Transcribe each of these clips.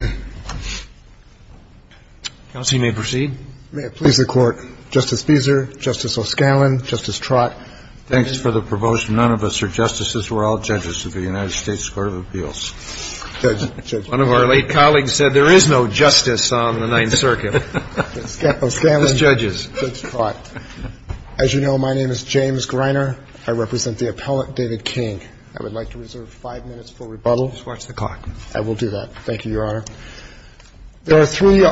May it please the Court, Justice Fieser, Justice O'Scallion, Justice Trott. Thanks for the proposal. None of us are justices. We're all judges of the United States Court of Appeals. One of our late colleagues said there is no justice on the Ninth Circuit. O'Scallion, Judge Trott. As you know, my name is James Greiner. I represent the appellant, David King. I would like to reserve five minutes for rebuttal. Just watch the clock. I will do that. Thank you, Your Honor. There are three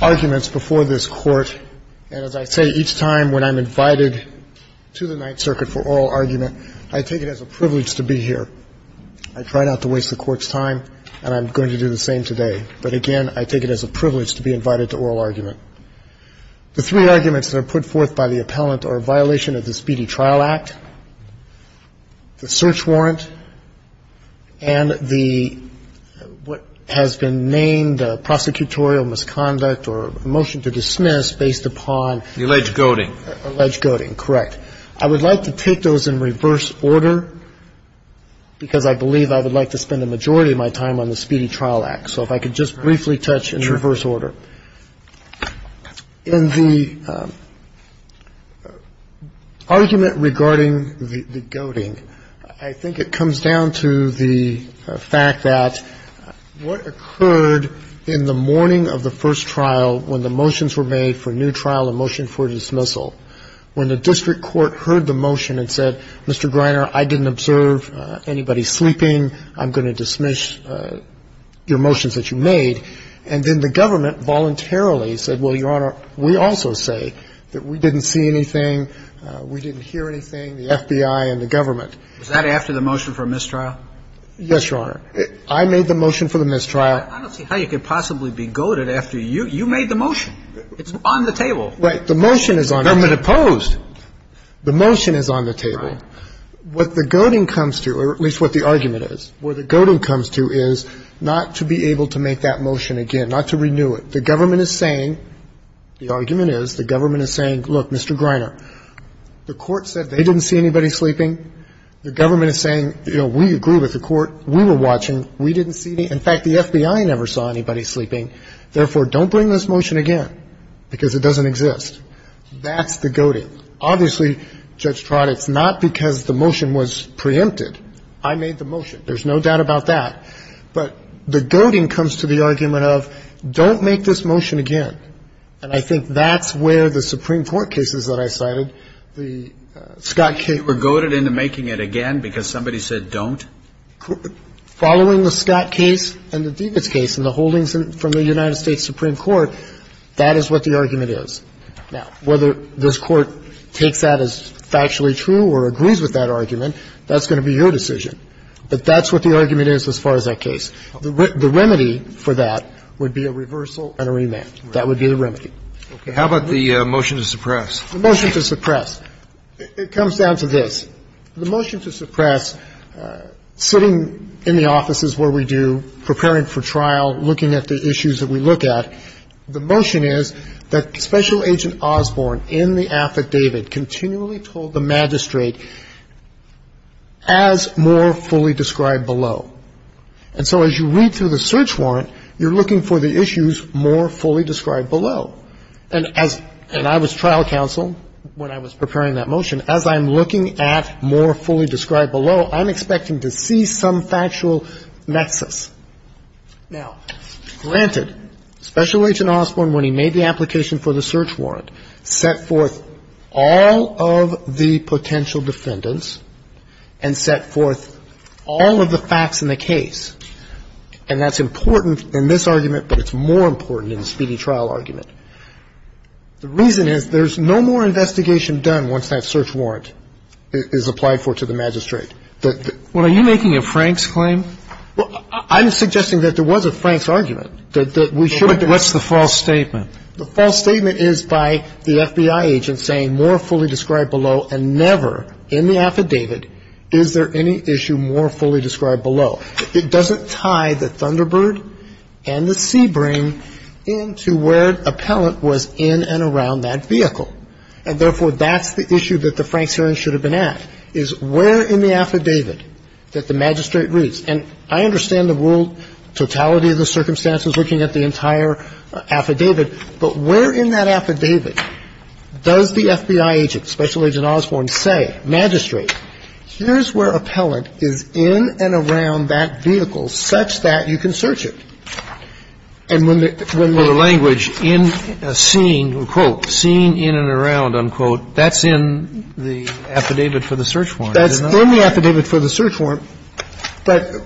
arguments before this Court. And as I say, each time when I'm invited to the Ninth Circuit for oral argument, I take it as a privilege to be here. I try not to waste the Court's time, and I'm going to do the same today. But again, I take it as a privilege to be invited to oral argument. The three arguments that are put forth by the appellant are violation of the Speedy Trial Act, the search warrant, and the what has been named prosecutorial misconduct or a motion to dismiss based upon the alleged goading. Alleged goading, correct. I would like to take those in reverse order because I believe I would like to spend the majority of my time on the Speedy Trial Act. Sure. In the argument regarding the goading, I think it comes down to the fact that what occurred in the morning of the first trial when the motions were made for new trial and motion for dismissal, when the district court heard the motion and said, Mr. Greiner, I didn't observe anybody sleeping, I'm going to dismiss your motions that you made, and then the government voluntarily said, well, Your Honor, we also say that we didn't see anything, we didn't hear anything, the FBI and the government. Is that after the motion for mistrial? Yes, Your Honor. I made the motion for the mistrial. I don't see how you could possibly be goaded after you made the motion. It's on the table. Right. The motion is on the table. Government opposed. The motion is on the table. Right. What the goading comes to, or at least what the argument is, what the goading comes to is not to be able to make that motion again, not to renew it. The government is saying, the argument is, the government is saying, look, Mr. Greiner, the court said they didn't see anybody sleeping. The government is saying, you know, we agree with the court. We were watching. We didn't see any. In fact, the FBI never saw anybody sleeping. Therefore, don't bring this motion again because it doesn't exist. That's the goading. Obviously, Judge Trott, it's not because the motion was preempted. I made the motion. There's no doubt about that. But the goading comes to the argument of, don't make this motion again. And I think that's where the Supreme Court cases that I cited, the Scott case. You were goaded into making it again because somebody said don't? Following the Scott case and the Divitz case and the holdings from the United States Supreme Court, that is what the argument is. Now, whether this Court takes that as factually true or agrees with that argument, that's going to be your decision. But that's what the argument is as far as that case. The remedy for that would be a reversal and a remand. That would be the remedy. Okay. How about the motion to suppress? The motion to suppress. It comes down to this. The motion to suppress, sitting in the offices where we do, preparing for trial, looking at the issues that we look at, the motion is that Special Agent Osborne in the affidavit continually told the magistrate as more fully described below. And so as you read through the search warrant, you're looking for the issues more fully described below. And as — and I was trial counsel when I was preparing that motion. As I'm looking at more fully described below, I'm expecting to see some factual nexus. Now, granted, Special Agent Osborne, when he made the application for the search warrant, he set forth all of the potential defendants and set forth all of the facts in the case. And that's important in this argument, but it's more important in the speedy trial argument. The reason is there's no more investigation done once that search warrant is applied for to the magistrate. Well, are you making a Franks claim? Well, I'm suggesting that there was a Franks argument, that we should have been. What's the false statement? The false statement is by the FBI agent saying more fully described below and never in the affidavit is there any issue more fully described below. It doesn't tie the Thunderbird and the Sebring into where appellant was in and around that vehicle. And therefore, that's the issue that the Franks hearing should have been at, is where in the affidavit that the magistrate reads. And I understand the world, totality of the circumstances, looking at the entire affidavit, but where in that affidavit does the FBI agent, Special Agent Osborne, say, magistrate, here's where appellant is in and around that vehicle such that you can search it. And when the language in, seen, quote, seen in and around, unquote, that's in the affidavit for the search warrant, is it not? It's in the affidavit for the search warrant. But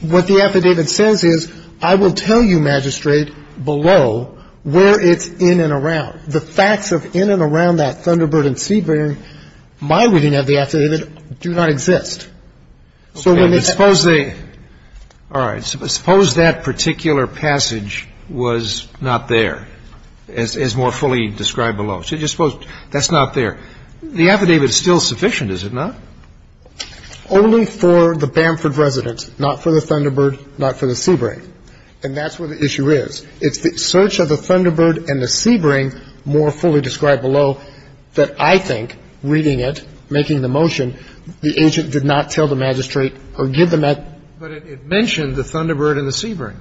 what the affidavit says is I will tell you, magistrate, below where it's in and around. The facts of in and around that Thunderbird and Sebring, my reading of the affidavit, do not exist. So when they have to say the affidavit. Scalia. All right. Suppose that particular passage was not there, as more fully described below. So just suppose that's not there. The affidavit is still sufficient, is it not? Only for the Bamford resident, not for the Thunderbird, not for the Sebring. And that's where the issue is. It's the search of the Thunderbird and the Sebring, more fully described below, that I think, reading it, making the motion, the agent did not tell the magistrate or give the magistrate. But it mentioned the Thunderbird and the Sebring.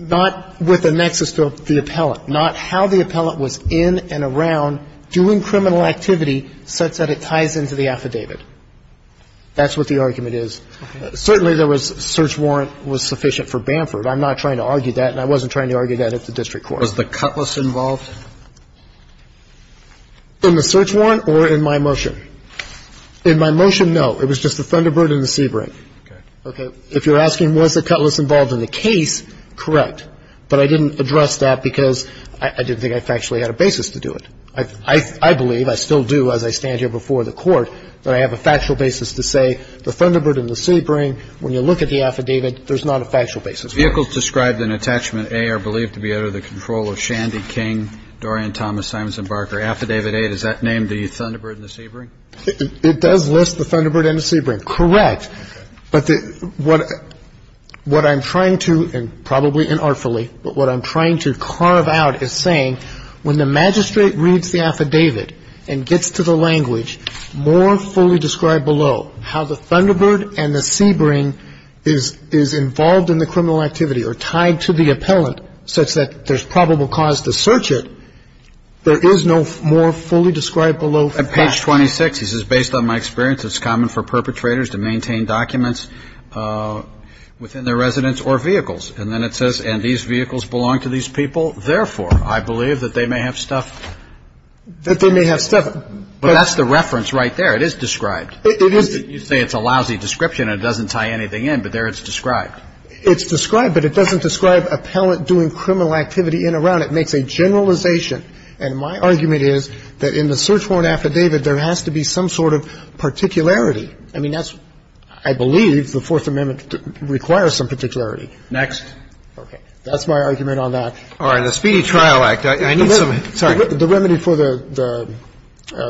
Not with a nexus to the appellant. Not how the appellant was in and around doing criminal activity such that it ties into the affidavit. That's what the argument is. Certainly there was search warrant was sufficient for Bamford. I'm not trying to argue that, and I wasn't trying to argue that at the district court. Was the Cutlass involved? In the search warrant or in my motion? In my motion, no. It was just the Thunderbird and the Sebring. Okay. If you're asking was the Cutlass involved in the case, correct. But I didn't address that because I didn't think I factually had a basis to do it. I believe, I still do as I stand here before the Court, that I have a factual basis to say the Thunderbird and the Sebring, when you look at the affidavit, there's not a factual basis. Vehicles described in Attachment A are believed to be under the control of Shandy King, Dorian Thomas, Simonson Barker. Affidavit A, does that name the Thunderbird and the Sebring? It does list the Thunderbird and the Sebring. Correct. But what I'm trying to, and probably inartfully, but what I'm trying to carve out is I'm saying when the magistrate reads the affidavit and gets to the language more fully described below how the Thunderbird and the Sebring is involved in the criminal activity or tied to the appellant such that there's probable cause to search it, there is no more fully described below facts. On page 26, he says, Based on my experience, it's common for perpetrators to maintain documents within their residence or vehicles. And then it says, And these vehicles belong to these people. Therefore, I believe that they may have stuff. That they may have stuff. But that's the reference right there. It is described. It is. You say it's a lousy description and it doesn't tie anything in, but there it's described. It's described, but it doesn't describe appellant doing criminal activity in or out. It makes a generalization. And my argument is that in the search warrant affidavit, there has to be some sort of particularity. I mean, that's, I believe the Fourth Amendment requires some particularity. Next. That's my argument on that. All right. The Speedy Trial Act. I need some. Sorry. The remedy for the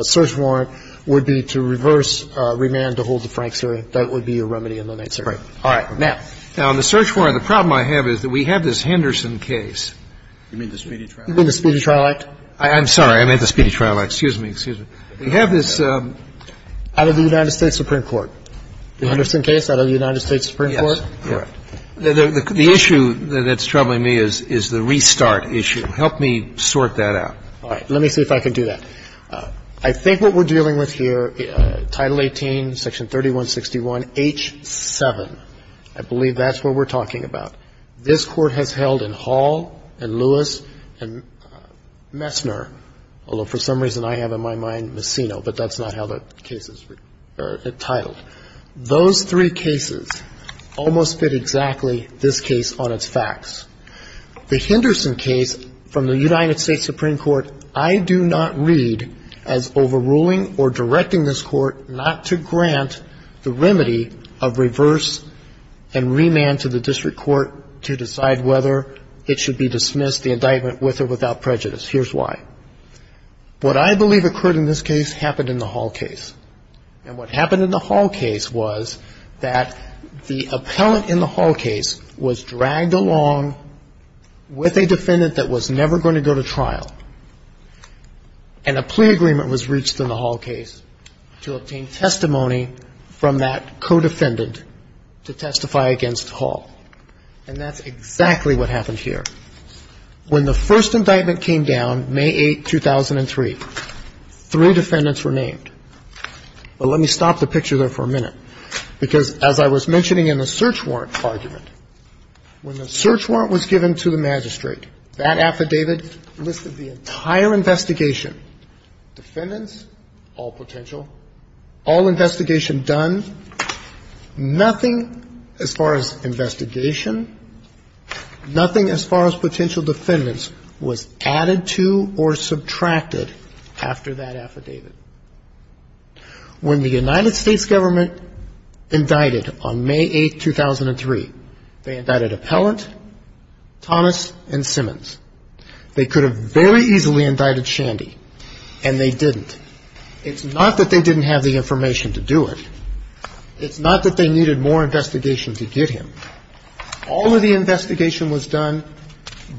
search warrant would be to reverse remand to hold the Franks hearing. That would be a remedy in the main circuit. All right. Now. Now, on the search warrant, the problem I have is that we have this Henderson case. You mean the Speedy Trial Act? You mean the Speedy Trial Act? I'm sorry. I meant the Speedy Trial Act. Excuse me. Excuse me. We have this. Out of the United States Supreme Court. The Henderson case out of the United States Supreme Court? Yes. Correct. The issue that's troubling me is the restart issue. Help me sort that out. All right. Let me see if I can do that. I think what we're dealing with here, Title 18, Section 3161H7, I believe that's what we're talking about. This Court has held in Hall and Lewis and Messner, although for some reason I have in my mind Messino, but that's not how the case is titled. Those three cases almost fit exactly this case on its facts. The Henderson case from the United States Supreme Court I do not read as overruling or directing this Court not to grant the remedy of reverse and remand to the district court to decide whether it should be dismissed, the indictment, with or without prejudice. Here's why. What I believe occurred in this case happened in the Hall case. And what happened in the Hall case was that the appellant in the Hall case was dragged along with a defendant that was never going to go to trial, and a plea agreement was reached in the Hall case to obtain testimony from that co-defendant to testify against Hall. And that's exactly what happened here. When the first indictment came down, May 8, 2003, three defendants were named. But let me stop the picture there for a minute, because as I was mentioning in the search warrant argument, when the search warrant was given to the magistrate, that affidavit listed the entire investigation, defendants, all potential, all investigation done, nothing as far as investigation, nothing as far as potential defendants was added to or subtracted after that affidavit. When the United States government indicted on May 8, 2003, they indicted appellant Thomas and Simmons. They could have very easily indicted Shandy, and they didn't. It's not that they didn't have the information to do it. It's not that they needed more investigation to get him. All of the investigation was done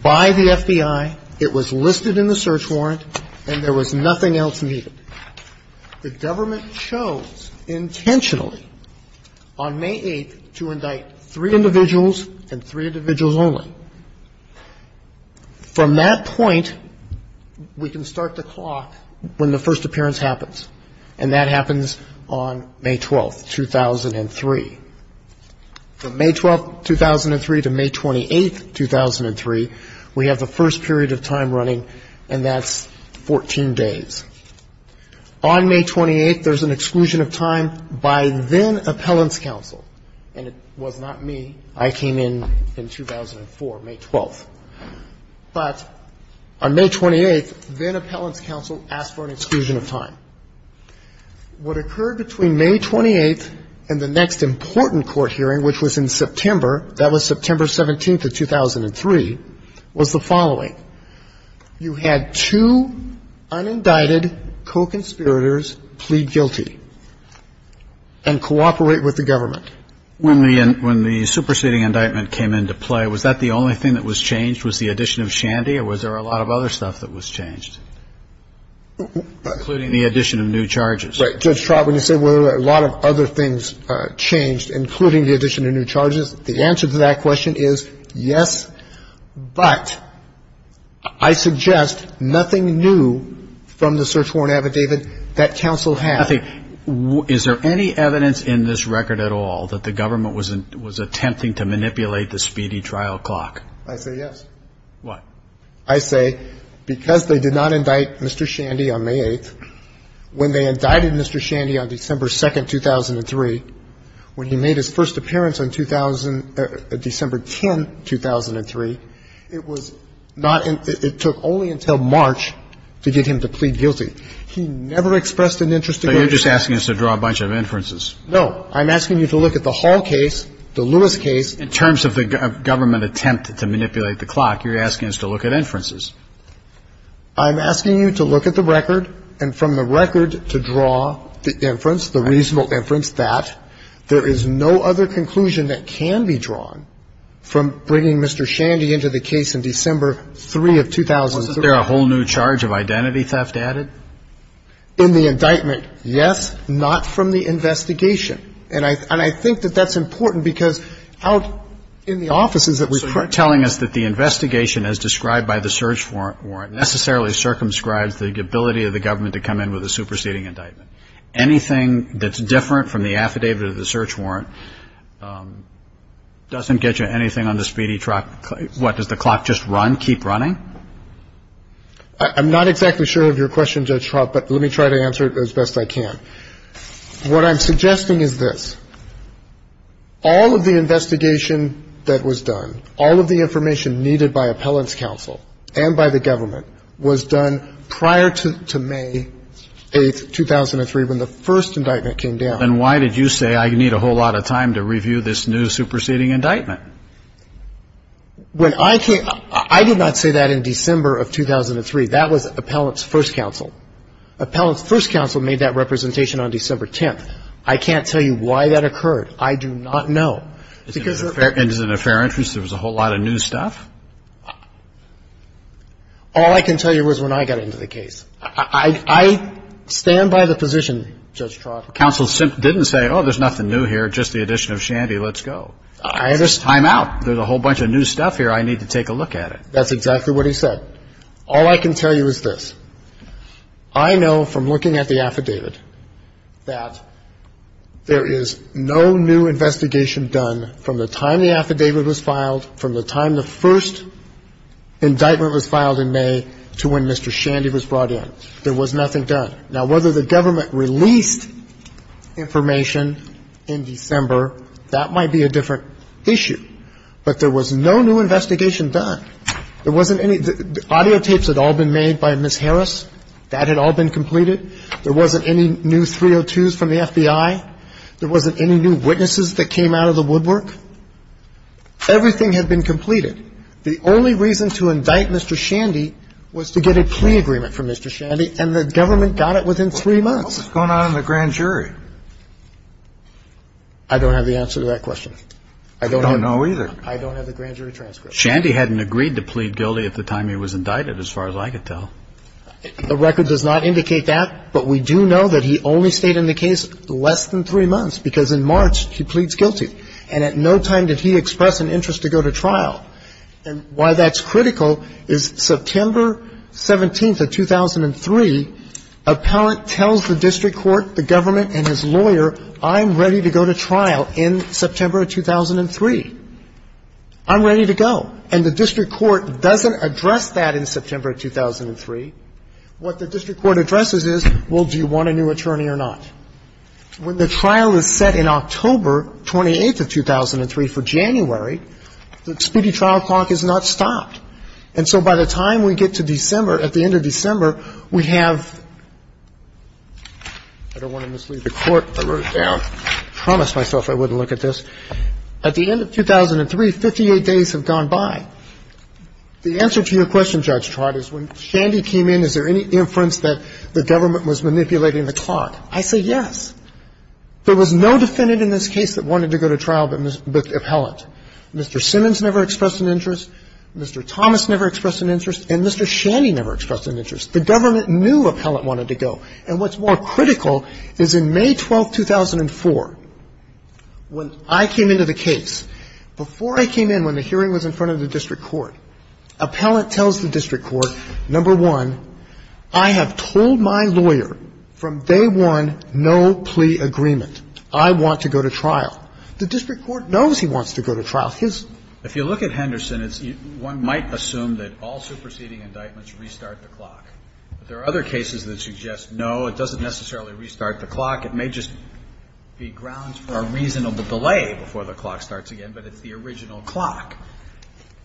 by the FBI, it was listed in the search warrant, and there was nothing else needed. The government chose intentionally on May 8 to indict three individuals and three individuals only. From that point, we can start the clock when the first appearance happens, and that happens on May 12, 2003. From May 12, 2003 to May 28, 2003, we have the first period of time running, and that's 14 days. On May 28, there's an exclusion of time by then-Appellant's counsel, and it was not me. I came in in 2004, May 12. But on May 28, then-Appellant's counsel asked for an exclusion of time. What occurred between May 28 and the next important court hearing, which was in September, that was September 17 of 2003, was the following. You had two unindicted co-conspirators plead guilty and cooperate with the government. When the superseding indictment came into play, was that the only thing that was changed? Was the addition of Shandy, or was there a lot of other stuff that was changed? Including the addition of new charges. Right. Judge Trautman, you said a lot of other things changed, including the addition of new charges. The answer to that question is yes, but I suggest nothing new from the search warrant affidavit that counsel had. I think — is there any evidence in this record at all that the government was attempting to manipulate the speedy trial clock? I say yes. What? I say because they did not indict Mr. Shandy on May 8th, when they indicted Mr. Shandy on December 2nd, 2003. When he made his first appearance on December 10, 2003, it was not — it took only until March to get him to plead guilty. He never expressed an interest in going to trial. So you're just asking us to draw a bunch of inferences. No. I'm asking you to look at the Hall case, the Lewis case. In terms of the government attempt to manipulate the clock, you're asking us to look at inferences. I'm asking you to look at the record and from the record to draw the inference, the reasonable inference that there is no other conclusion that can be drawn from bringing Mr. Shandy into the case in December 3 of 2003. Wasn't there a whole new charge of identity theft added? In the indictment, yes. Not from the investigation. And I think that that's important because out in the offices that we've corrected the investigation as described by the search warrant necessarily circumscribes the ability of the government to come in with a superseding indictment. Anything that's different from the affidavit of the search warrant doesn't get you anything on the speedy clock. What, does the clock just run, keep running? I'm not exactly sure of your question, Judge Trout, but let me try to answer it as best I can. What I'm suggesting is this. All of the investigation that was done, all of the information needed by appellant's counsel and by the government was done prior to May 8, 2003 when the first indictment came down. And why did you say I need a whole lot of time to review this new superseding indictment? When I came, I did not say that in December of 2003. That was appellant's first counsel. Appellant's first counsel made that representation on December 10th. I can't tell you why that occurred. I do not know. Is it in the fair interest there was a whole lot of new stuff? All I can tell you was when I got into the case. I stand by the position, Judge Trout. Counsel didn't say, oh, there's nothing new here, just the addition of Shandy, let's go. I understand. Time out. There's a whole bunch of new stuff here. I need to take a look at it. That's exactly what he said. All I can tell you is this. I know from looking at the affidavit that there is no new investigation done from the time the affidavit was filed, from the time the first indictment was filed in May to when Mr. Shandy was brought in. There was nothing done. Now, whether the government released information in December, that might be a different issue. But there was no new investigation done. There wasn't any. The audiotapes had all been made by Ms. Harris. That had all been completed. There wasn't any new 302s from the FBI. There wasn't any new witnesses that came out of the woodwork. Everything had been completed. The only reason to indict Mr. Shandy was to get a plea agreement from Mr. Shandy, and the government got it within three months. What's going on in the grand jury? I don't have the answer to that question. I don't have the grand jury transcript. But Shandy hadn't agreed to plead guilty at the time he was indicted as far as I could tell. The record does not indicate that. But we do know that he only stayed in the case less than three months, because in March he pleads guilty. And at no time did he express an interest to go to trial. And why that's critical is September 17th of 2003, appellant tells the district court, the government and his lawyer, I'm ready to go to trial in September of 2003. I'm ready to go. And the district court doesn't address that in September of 2003. What the district court addresses is, well, do you want a new attorney or not? When the trial is set in October 28th of 2003 for January, the speedy trial clock is not stopped. And so by the time we get to December, at the end of December, we have – I don't want to mislead the Court. I wrote it down. I promised myself I wouldn't look at this. At the end of 2003, 58 days have gone by. The answer to your question, Judge Trott, is when Shandy came in, is there any inference that the government was manipulating the clock? I say yes. There was no defendant in this case that wanted to go to trial but appellant. Mr. Simmons never expressed an interest. Mr. Thomas never expressed an interest. And Mr. Shandy never expressed an interest. The government knew appellant wanted to go. And what's more critical is in May 12th, 2004, when I came into the case, before I came in, when the hearing was in front of the district court, appellant tells the district court, number one, I have told my lawyer from day one no plea agreement. I want to go to trial. The district court knows he wants to go to trial. His – If you look at Henderson, one might assume that all superseding indictments restart the clock. There are other cases that suggest no, it doesn't necessarily restart the clock. It may just be grounds for a reasonable delay before the clock starts again, but it's the original clock.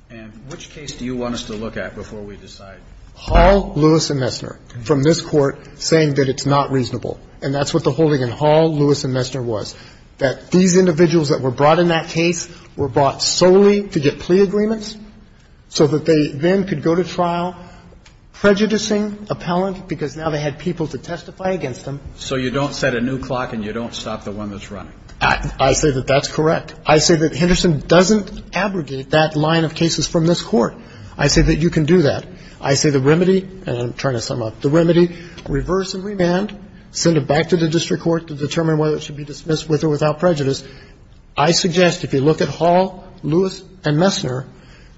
And which case do you want us to look at before we decide? Hall, Lewis, and Messner, from this Court, saying that it's not reasonable. And that's what the holding in Hall, Lewis, and Messner was, that these individuals that were brought in that case were brought solely to get plea agreements so that they then could go to trial prejudicing appellant because now they had people to testify against them. So you don't set a new clock and you don't stop the one that's running? I say that that's correct. I say that Henderson doesn't abrogate that line of cases from this Court. I say that you can do that. I say the remedy – and I'm trying to sum up – the remedy, reverse and remand, send it back to the district court to determine whether it should be dismissed with or without prejudice. I suggest, if you look at Hall, Lewis, and Messner,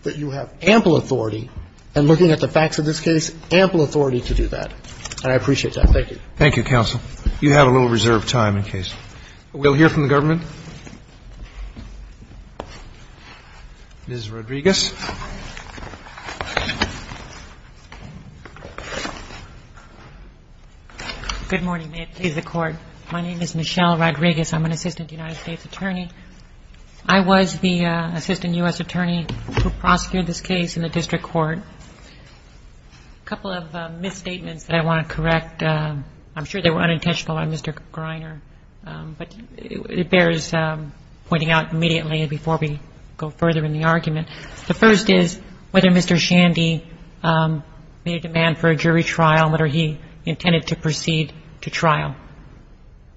that you have ample authority and, looking at the facts of this case, ample authority to do that. And I appreciate that. Thank you. Roberts. Thank you, counsel. You have a little reserved time in case. We'll hear from the government. Ms. Rodriguez. Good morning. May it please the Court. My name is Michelle Rodriguez. I'm an assistant United States attorney. I was the assistant U.S. attorney who prosecuted this case in the district court. A couple of misstatements that I want to correct. I'm sure they were unintentional on Mr. Greiner, but it bears pointing out immediately before we go further in the argument. The first is whether Mr. Shandy made a demand for a jury trial, whether he intended to proceed to trial.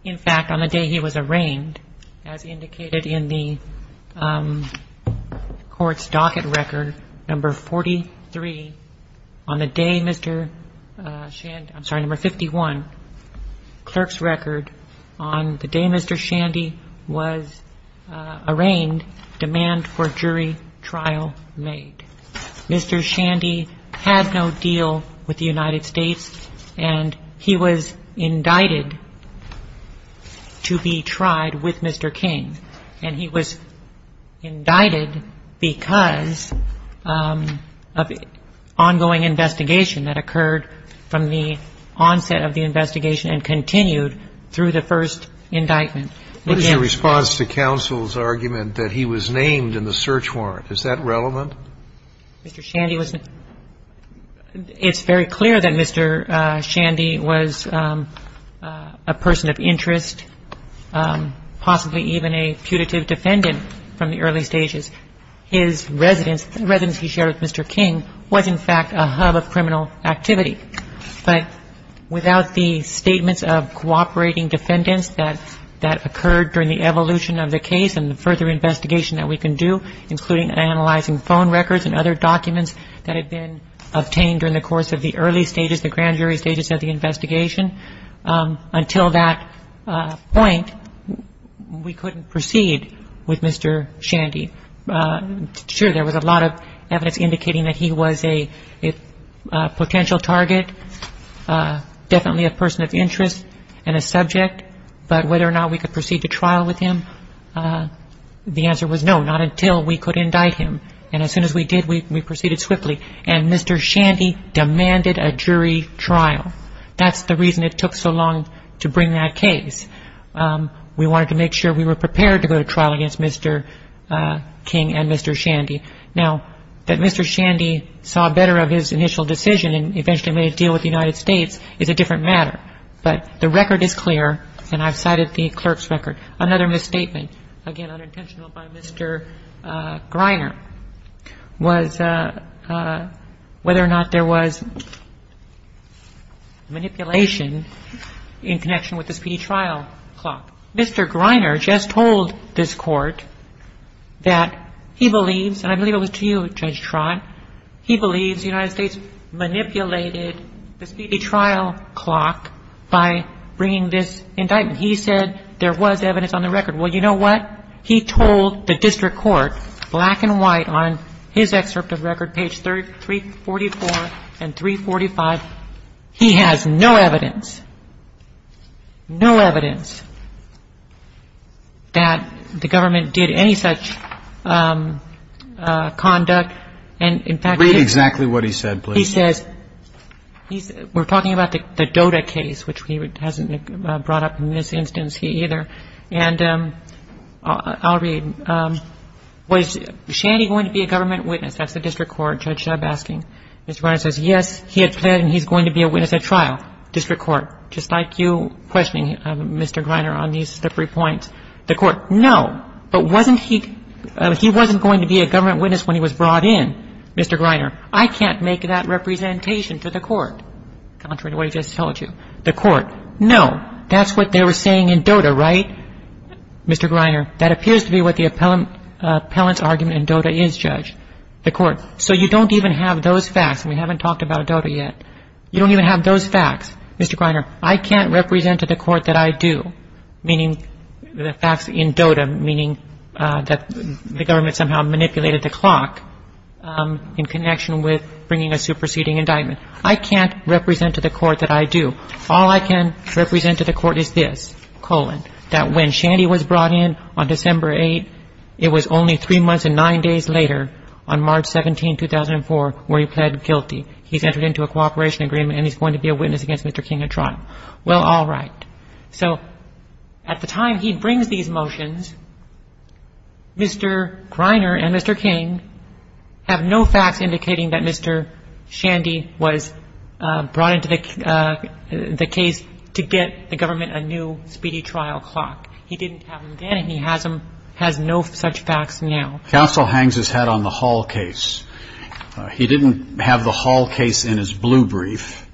In fact, on the day he was arraigned, as indicated in the court's docket record, number 43, on the day Mr. Shandy, I'm sorry, number 51, clerk's record, on the day Mr. Shandy was arraigned, demand for jury trial made. Mr. Shandy had no deal with the United States, and he was indicted to be tried with Mr. King. And he was indicted because of ongoing investigation that occurred from the onset of the investigation and continued through the first indictment. What is your response to counsel's argument that he was named in the search warrant? Is that relevant? Mr. Shandy was a — it's very clear that Mr. Shandy was a person of interest, possibly even a putative defendant from the early stages. His residence, the residence he shared with Mr. King, was in fact a hub of criminal activity. But without the statements of cooperating defendants that occurred during the evolution of the case and the further investigation that we can do, including analyzing phone records and other documents that had been obtained during the course of the early stages, the grand jury stages of the investigation, until that point, we couldn't proceed with Mr. Shandy. Sure, there was a lot of evidence indicating that he was a potential target, definitely a potential target. But the answer was no, not until we could indict him. And as soon as we did, we proceeded swiftly. And Mr. Shandy demanded a jury trial. That's the reason it took so long to bring that case. We wanted to make sure we were prepared to go to trial against Mr. King and Mr. Shandy. Now, that Mr. Shandy saw better of his initial decision and eventually made a deal with the United States is a different matter. But the record is clear, and I've cited the clerk's record. Another misstatement, again, unintentional by Mr. Greiner, was whether or not there was manipulation in connection with the speedy trial clock. Mr. Greiner just told this Court that he believes, and I believe it was to you, Judge Trott, he believes the United States manipulated the speedy trial clock by bringing this indictment. He said there was evidence on the record. Well, you know what? He told the district court, black and white, on his excerpt of record, page 344 and 345, he has no evidence, no evidence that the government did any such conduct. And, in fact, he said... Read exactly what he said, please. He says, we're talking about the DOTA case, which he hasn't brought up in this instance either. And I'll read. Was Shandy going to be a government witness? That's the district court, Judge Shub asking. Mr. Greiner says, yes, he had planned and he's going to be a witness at trial. District court, just like you questioning Mr. Greiner on these slippery points. The court, no. But wasn't he going to be a government witness when he was brought in? Mr. Greiner, I can't make that representation to the court. Contrary to what he just told you. The court, no. That's what they were saying in DOTA, right, Mr. Greiner? So you don't even have those facts, and we haven't talked about DOTA yet. You don't even have those facts. Mr. Greiner, I can't represent to the court that I do, meaning the facts in DOTA, meaning that the government somehow manipulated the clock in connection with bringing a superseding indictment. I can't represent to the court that I do. All I can represent to the court is this, colon, that when Shandy was brought in on December 8, it was only three months and nine days later, on March 17, 2004, where he pled guilty. He's entered into a cooperation agreement, and he's going to be a witness against Mr. King at trial. Well, all right. So at the time he brings these motions, Mr. Greiner and Mr. King have no facts indicating that Mr. Shandy was brought into the case to get the government a new speedy trial clock. He didn't have them then, and he has no such facts now. Counsel hangs his head on the Hall case. He didn't have the Hall case in his blue brief,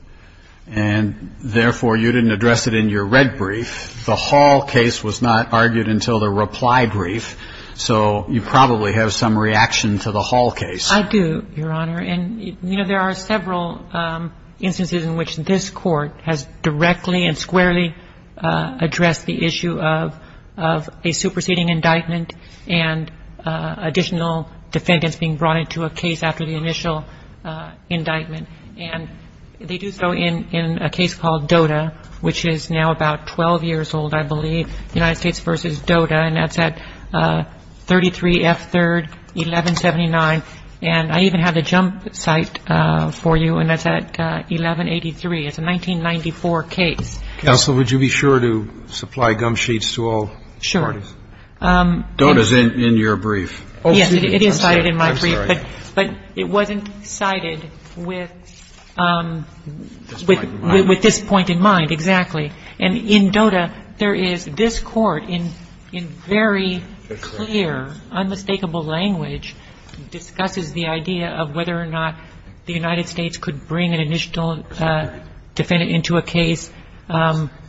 and therefore you didn't address it in your red brief. The Hall case was not argued until the reply brief, so you probably have some reaction to the Hall case. I do, Your Honor. And, you know, there are several instances in which this Court has directly and squarely addressed the issue of a superseding indictment and additional defendants being brought into a case after the initial indictment. And they do so in a case called DOTA, which is now about 12 years old, I believe, United States v. DOTA, and that's at 33 F. 3rd, 1179. And I even have the jump site for you, and that's at 1183. It's a 1994 case. Counsel, would you be sure to supply gum sheets to all parties? Sure. DOTA's in your brief. Yes, it is cited in my brief. I'm sorry. But it wasn't cited with this point in mind, exactly. And in DOTA, there is this Court in very clear, unmistakable language discusses the idea of whether or not the United States could bring an initial defendant into a case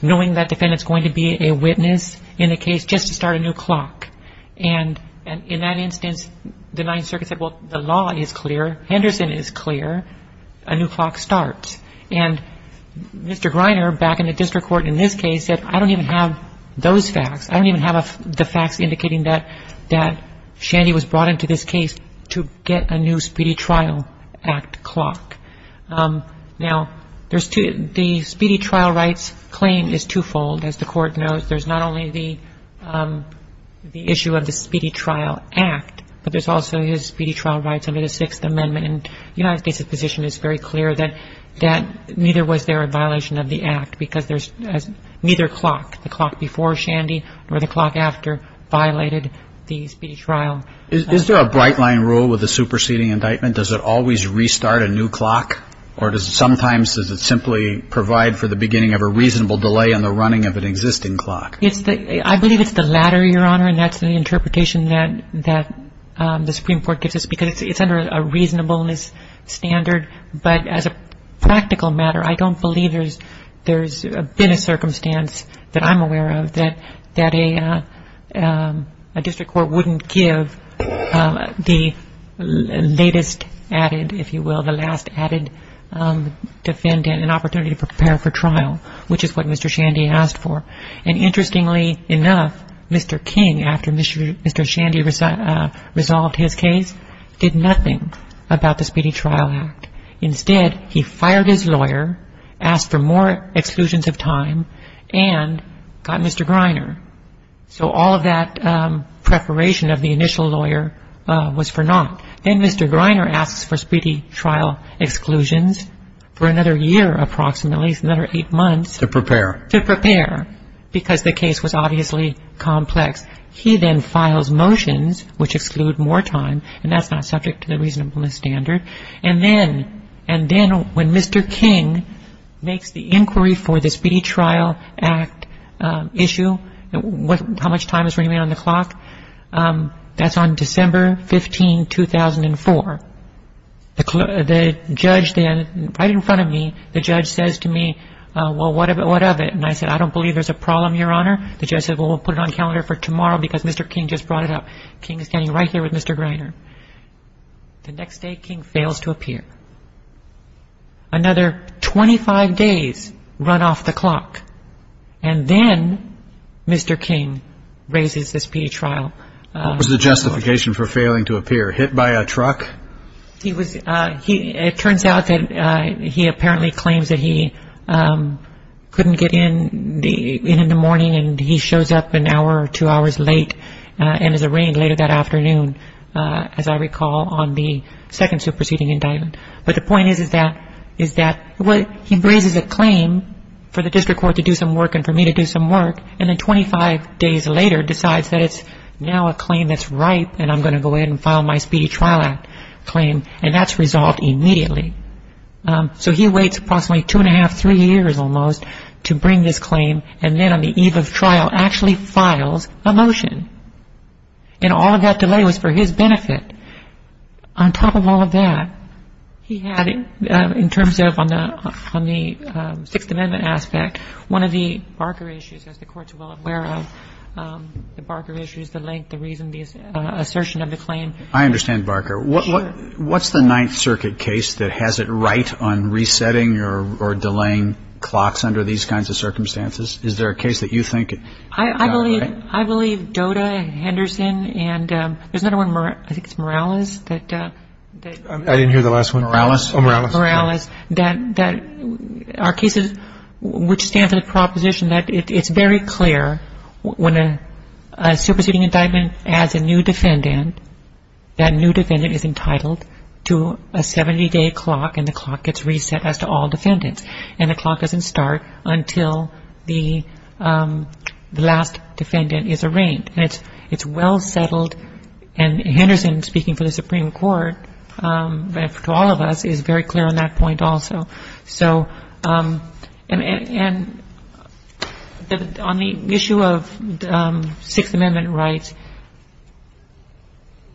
knowing that defendant's going to be a witness in a case just to start a new clock. And in that instance, the Ninth Circuit said, well, the law is clear, Henderson is clear, a new clock starts. And Mr. Greiner, back in the district court in this case, said, I don't even have those facts. I don't even have the facts indicating that Shandy was brought into this case to get a new Speedy Trial Act clock. Now, the Speedy Trial Rights claim is twofold. As the Court knows, there's not only the issue of the Speedy Trial Act, but there's also his Speedy Trial Rights under the Sixth Amendment. And the United States' position is very clear that neither was there a violation of the Act because neither clock, the clock before Shandy or the clock after, violated the Speedy Trial Act. Is there a bright-line rule with a superseding indictment? Does it always restart a new clock? Or does it sometimes simply provide for the beginning of a reasonable delay in the running of an existing clock? I believe it's the latter, Your Honor, and that's the interpretation that the Supreme Court gives us because it's under a reasonableness standard. But as a practical matter, I don't believe there's been a circumstance that I'm aware of that a district court wouldn't give the latest added, if you will, the last added defendant an opportunity to prepare for trial, which is what Mr. Shandy asked for. And interestingly enough, Mr. King, after Mr. Shandy resolved his case, did nothing about the Speedy Trial Act. Instead, he fired his lawyer, asked for more exclusions of time, and got Mr. Greiner. So all of that preparation of the initial lawyer was for naught. Then Mr. Greiner asks for Speedy Trial exclusions for another year approximately, another eight months. To prepare. To prepare, because the case was obviously complex. He then files motions which exclude more time, and that's not subject to the reasonableness standard. And then when Mr. King makes the inquiry for the Speedy Trial Act issue, how much time is remaining on the clock? That's on December 15, 2004. The judge then, right in front of me, the judge says to me, well, what of it, what of it? And I said, I don't believe there's a problem, Your Honor. The judge said, well, we'll put it on calendar for tomorrow because Mr. King just brought it up. King is standing right here with Mr. Greiner. The next day, King fails to appear. Another 25 days run off the clock. And then Mr. King raises the Speedy Trial. What was the justification for failing to appear, hit by a truck? It turns out that he apparently claims that he couldn't get in in the morning, and he shows up an hour or two hours late and is arraigned later that afternoon, as I recall, on the second superseding indictment. But the point is that he raises a claim for the district court to do some work and for me to do some work, and then 25 days later decides that it's now a claim that's ripe and I'm going to go in and file my Speedy Trial Act claim, and that's resolved immediately. So he waits approximately two and a half, three years almost to bring this claim, and then on the eve of trial actually files a motion. And all of that delay was for his benefit. On top of all of that, he had, in terms of on the Sixth Amendment aspect, one of the Barker issues, as the Court's well aware of, the Barker issues, the length, the reason, the assertion of the claim. I understand Barker. What's the Ninth Circuit case that has it right on resetting or delaying clocks under these kinds of circumstances? Is there a case that you think got it right? I believe Doda, Henderson, and there's another one, I think it's Morales that ---- I didn't hear the last one. Morales. Oh, Morales. That our cases which stand for the proposition that it's very clear when a superseding indictment adds a new defendant, that new defendant is entitled to a 70-day clock and the clock gets reset as to all defendants. And the clock doesn't start until the last defendant is arraigned. And it's well settled. And Henderson, speaking for the Supreme Court, to all of us, is very clear on that point also. So and on the issue of Sixth Amendment rights,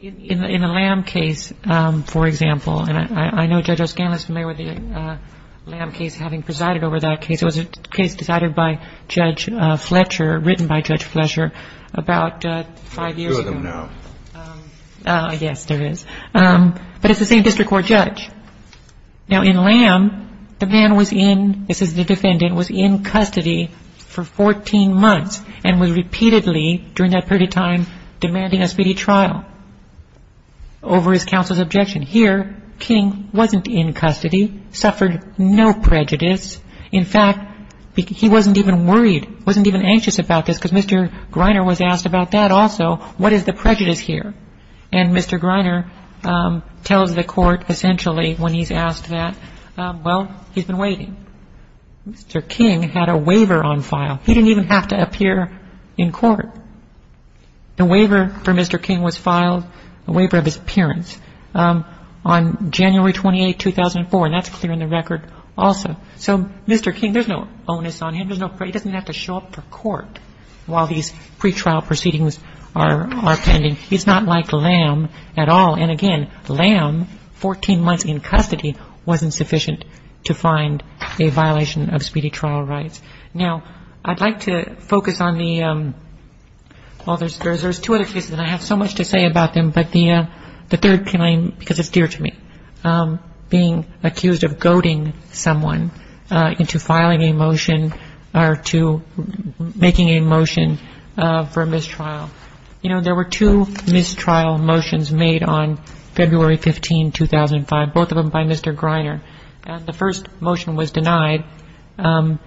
in the Lamb case, for example, and I know Judge O'Scann is familiar with the Lamb case having presided over that case. It was a case decided by Judge Fletcher, written by Judge Fletcher about five years ago. Yes, there is. But it's the same district court judge. Now, in Lamb, the man was in, this is the defendant, was in custody for 14 months and was repeatedly during that period of time demanding a speedy trial over his counsel's objection. Here, King wasn't in custody, suffered no prejudice. In fact, he wasn't even worried, wasn't even anxious about this because Mr. Greiner was asked about that also. What is the prejudice here? And Mr. Greiner tells the court essentially when he's asked that, well, he's been waiting. Mr. King had a waiver on file. He didn't even have to appear in court. The waiver for Mr. King was filed, the waiver of his appearance, on January 28, 2004. And that's clear in the record also. So Mr. King, there's no onus on him. He doesn't have to show up for court while these pretrial proceedings are pending. He's not like Lamb at all. And, again, Lamb, 14 months in custody, wasn't sufficient to find a violation of speedy trial rights. Now, I'd like to focus on the, well, there's two other cases, and I have so much to say about them, but the third can I, because it's dear to me, being accused of goading someone into filing a motion or to making a motion for mistrial. You know, there were two mistrial motions made on February 15, 2005, both of them by Mr. Greiner. And the first motion was denied, and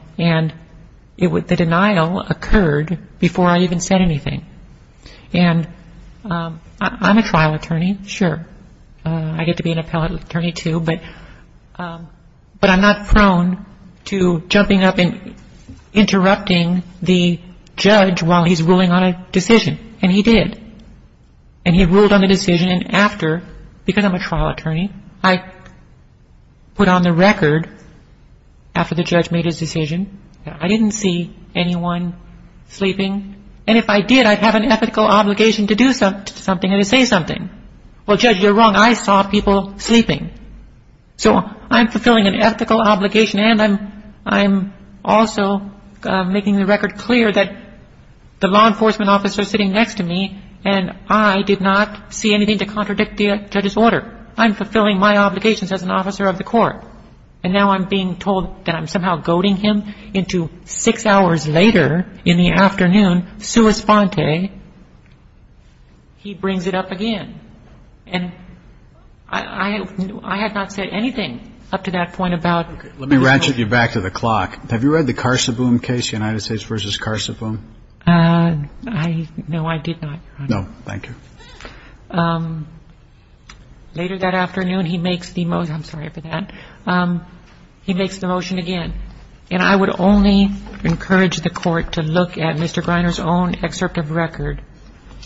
the denial occurred before I even said anything. And I'm a trial attorney, sure. I get to be an appellate attorney, too, but I'm not prone to jumping up and interrupting the judge while he's ruling on a decision. And he did. And he ruled on the decision, and after, because I'm a trial attorney, I put on the record after the judge made his decision that I didn't see anyone sleeping. And if I did, I'd have an ethical obligation to do something or to say something. Well, Judge, you're wrong. I saw people sleeping. So I'm fulfilling an ethical obligation, and I'm also making the record clear that the law enforcement officer sitting next to me and I did not see anything to contradict the judge's order. I'm fulfilling my obligations as an officer of the court. And now I'm being told that I'm somehow goading him into six hours later in the afternoon, sui sponte, he brings it up again. And I have not said anything up to that point about the court. Let me ratchet you back to the clock. Have you read the Carseboom case, United States v. Carseboom? No, I did not, Your Honor. No. Thank you. Later that afternoon, he makes the motion. I'm sorry for that. He makes the motion again. And I would only encourage the court to look at Mr. Greiner's own excerpt of record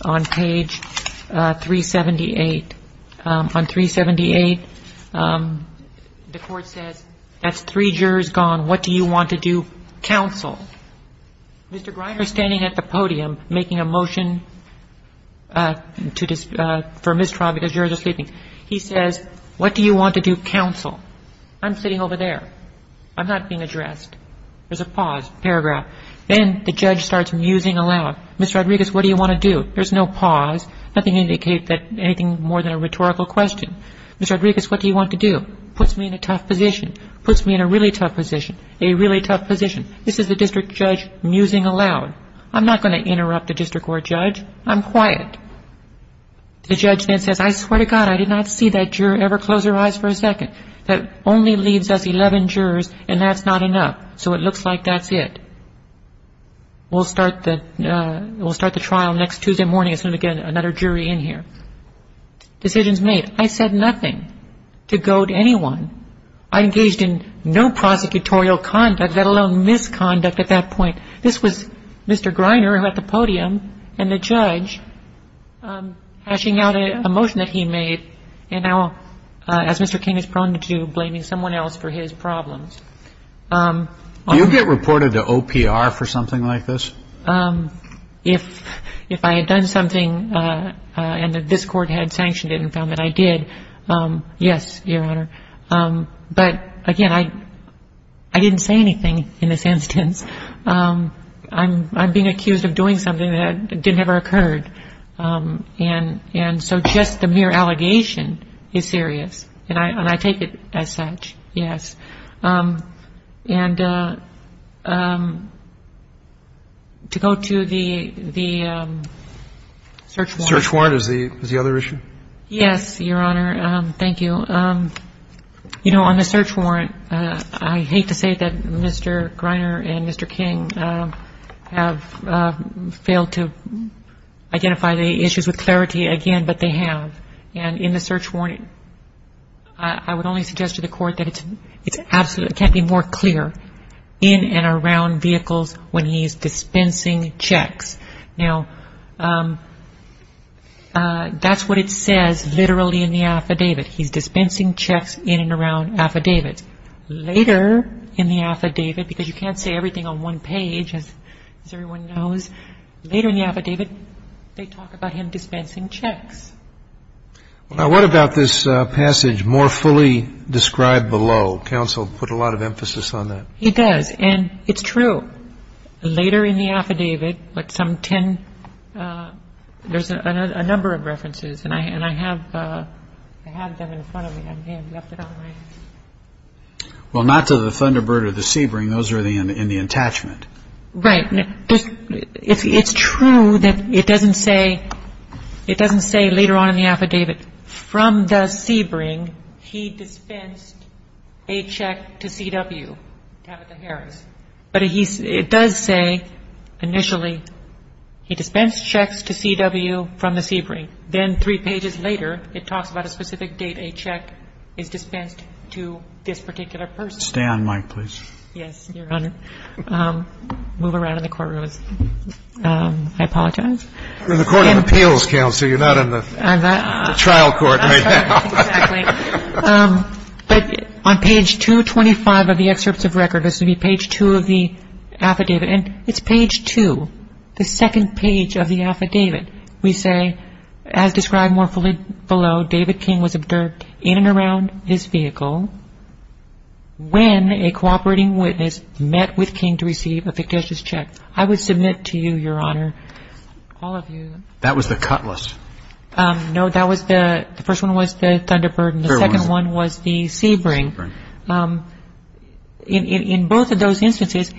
on page 378. On 378, the court says, as three jurors gone, what do you want to do? Counsel. Mr. Greiner is standing at the podium making a motion for mistrial because jurors are sleeping. He says, what do you want to do? Counsel. I'm sitting over there. I'm not being addressed. There's a pause, paragraph. Then the judge starts musing aloud. Ms. Rodriguez, what do you want to do? There's no pause. Nothing indicate that anything more than a rhetorical question. Ms. Rodriguez, what do you want to do? Puts me in a tough position. Puts me in a really tough position. A really tough position. This is the district judge musing aloud. I'm not going to interrupt the district court judge. I'm quiet. The judge then says, I swear to God, I did not see that juror ever close her eyes for a second. That only leaves us 11 jurors, and that's not enough. So it looks like that's it. We'll start the trial next Tuesday morning. It's going to get another jury in here. Decisions made. I said nothing to goad anyone. I engaged in no prosecutorial conduct, let alone misconduct at that point. This was Mr. Greiner at the podium and the judge hashing out a motion that he made. And now, as Mr. King is prone to do, blaming someone else for his problems. Do you get reported to OPR for something like this? If I had done something and this Court had sanctioned it and found that I did, yes, Your Honor. But, again, I didn't say anything in this instance. I'm being accused of doing something that didn't ever occur. And so just the mere allegation is serious, and I take it as such, yes. And to go to the search warrant. Search warrant is the other issue? Yes, Your Honor. Thank you. You know, on the search warrant, I hate to say that Mr. Greiner and Mr. King have failed to identify the issues with clarity again, but they have. And in the search warrant, I would only suggest to the Court that it can't be more clear in and around vehicles when he is dispensing checks. Now, that's what it says literally in the affidavit. He's dispensing checks in and around affidavits. He's dispensing checks later in the affidavit, because you can't say everything on one page, as everyone knows. Later in the affidavit, they talk about him dispensing checks. Now, what about this passage, more fully described below? Counsel put a lot of emphasis on that. He does, and it's true. Later in the affidavit, like some ten, there's a number of references, and I have them in front of me. Well, not to the Thunderbird or the Sebring. Those are in the attachment. Right. It's true that it doesn't say later on in the affidavit, from the Sebring, he dispensed a check to CW, Tabitha Harris. But it does say initially, he dispensed checks to CW from the Sebring. Then three pages later, it talks about a specific date a check is dispensed to this particular person. Stay on mic, please. Yes, Your Honor. Move around in the courtroom. I apologize. You're in the Court of Appeals, Counsel. You're not in the trial court right now. Exactly. But on page 225 of the excerpts of record, this would be page 2 of the affidavit. And it's page 2, the second page of the affidavit. We say, as described more fully below, David King was observed in and around his vehicle when a cooperating witness met with King to receive a fictitious check. I would submit to you, Your Honor, all of you. That was the cut list. No, that was the – the first one was the Thunderbird and the second one was the Sebring. Sebring. In both of those instances,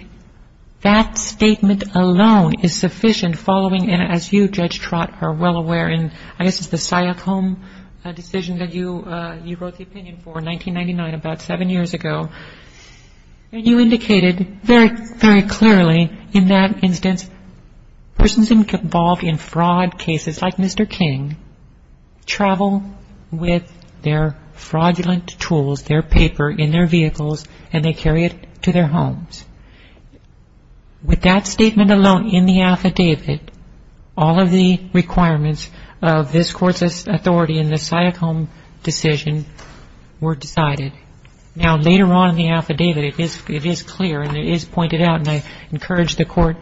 that statement alone is sufficient following, and as you, Judge Trott, are well aware, and I guess it's the Syacom decision that you wrote the opinion for in 1999, about seven years ago. You indicated very, very clearly in that instance persons involved in fraud cases like Mr. King travel with their fraudulent tools, their paper, in their vehicles, and they carry it to their homes. With that statement alone in the affidavit, all of the requirements of this Court's authority in the Syacom decision were decided. Now, later on in the affidavit, it is clear and it is pointed out, and I encourage the Court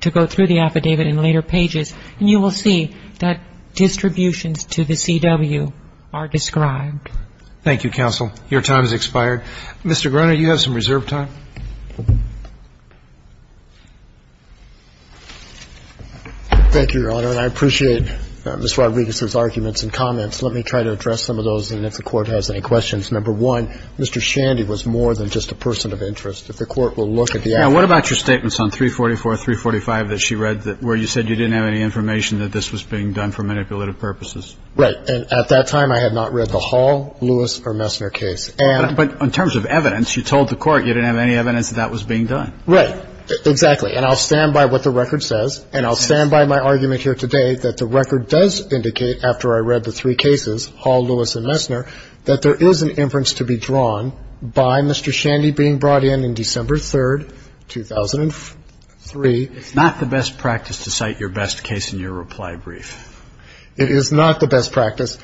to go through the affidavit in later pages, and you will see that distributions to the CW are described. Thank you, counsel. Your time has expired. Mr. Gruner, you have some reserve time. Thank you, Your Honor, and I appreciate Ms. Rodriguez's arguments and comments. Let me try to address some of those, and if the Court has any questions. Number one, Mr. Shandy was more than just a person of interest. If the Court will look at the affidavit. Now, what about your statements on 344, 345 that she read, where you said you didn't have any information that this was being done for manipulative purposes? Right. And at that time, I had not read the Hall, Lewis, or Messner case. But in terms of evidence, you told the Court you didn't have any evidence that that was being done. Right. Exactly. And I'll stand by what the record says, and I'll stand by my argument here today that the record does indicate, after I read the three cases, Hall, Lewis, and Messner, that there is an inference to be drawn by Mr. Shandy being brought in on December 3, 2003. It's not the best practice to cite your best case in your reply brief. It is not the best practice.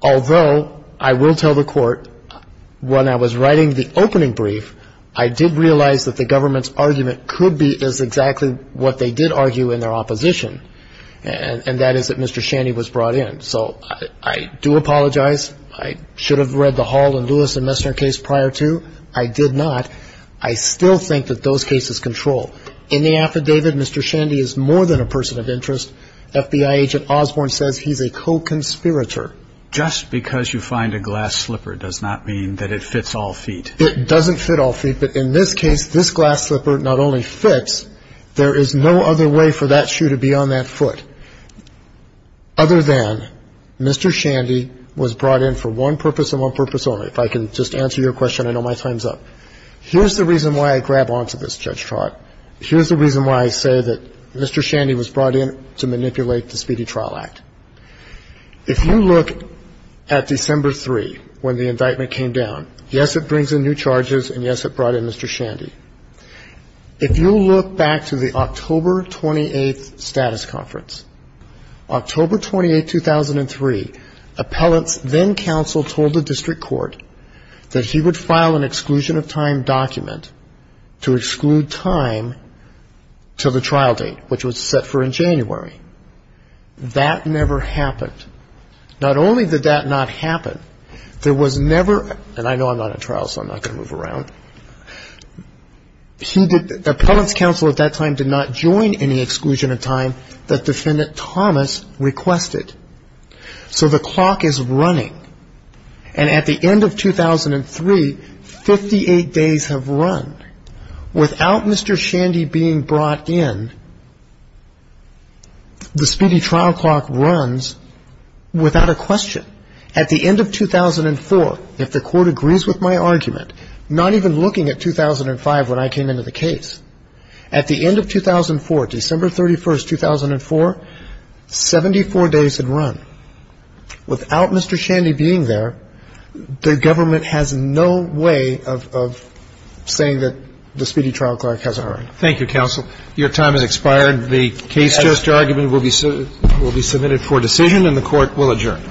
Although, I will tell the Court, when I was writing the opening brief, I did realize that the government's argument could be as exactly what they did argue in their opposition, and that is that Mr. Shandy was brought in. So I do apologize. I should have read the Hall, Lewis, and Messner case prior to. I did not. I still think that those cases control. In the affidavit, Mr. Shandy is more than a person of interest. FBI agent Osborne says he's a co-conspirator. Just because you find a glass slipper does not mean that it fits all feet. It doesn't fit all feet. But in this case, this glass slipper not only fits, there is no other way for that shoe to be on that foot, other than Mr. Shandy was brought in for one purpose and one purpose only. If I can just answer your question, I know my time's up. Here's the reason why I grab onto this, Judge Trott. Here's the reason why I say that Mr. Shandy was brought in to manipulate the Speedy Trial Act. If you look at December 3, when the indictment came down, yes, it brings in new charges, and, yes, it brought in Mr. Shandy. If you look back to the October 28th status conference, October 28, 2003, appellant's then counsel told the district court that he would file an exclusion of time document to exclude time until the trial date, which was set for in January. That never happened. Not only did that not happen, there was never, and I know I'm not at trial, so I'm not going to move around, appellant's counsel at that time did not join any exclusion of time that Defendant Thomas requested. So the clock is running, and at the end of 2003, 58 days have run. Without Mr. Shandy being brought in, the speedy trial clock runs without a question. At the end of 2004, if the court agrees with my argument, not even looking at 2005 when I came into the case, at the end of 2004, December 31, 2004, 74 days had run. Without Mr. Shandy being there, the government has no way of saying that the speedy trial clock has a hurry. Thank you, counsel. Your time has expired. The case just argument will be submitted for decision, and the court will adjourn.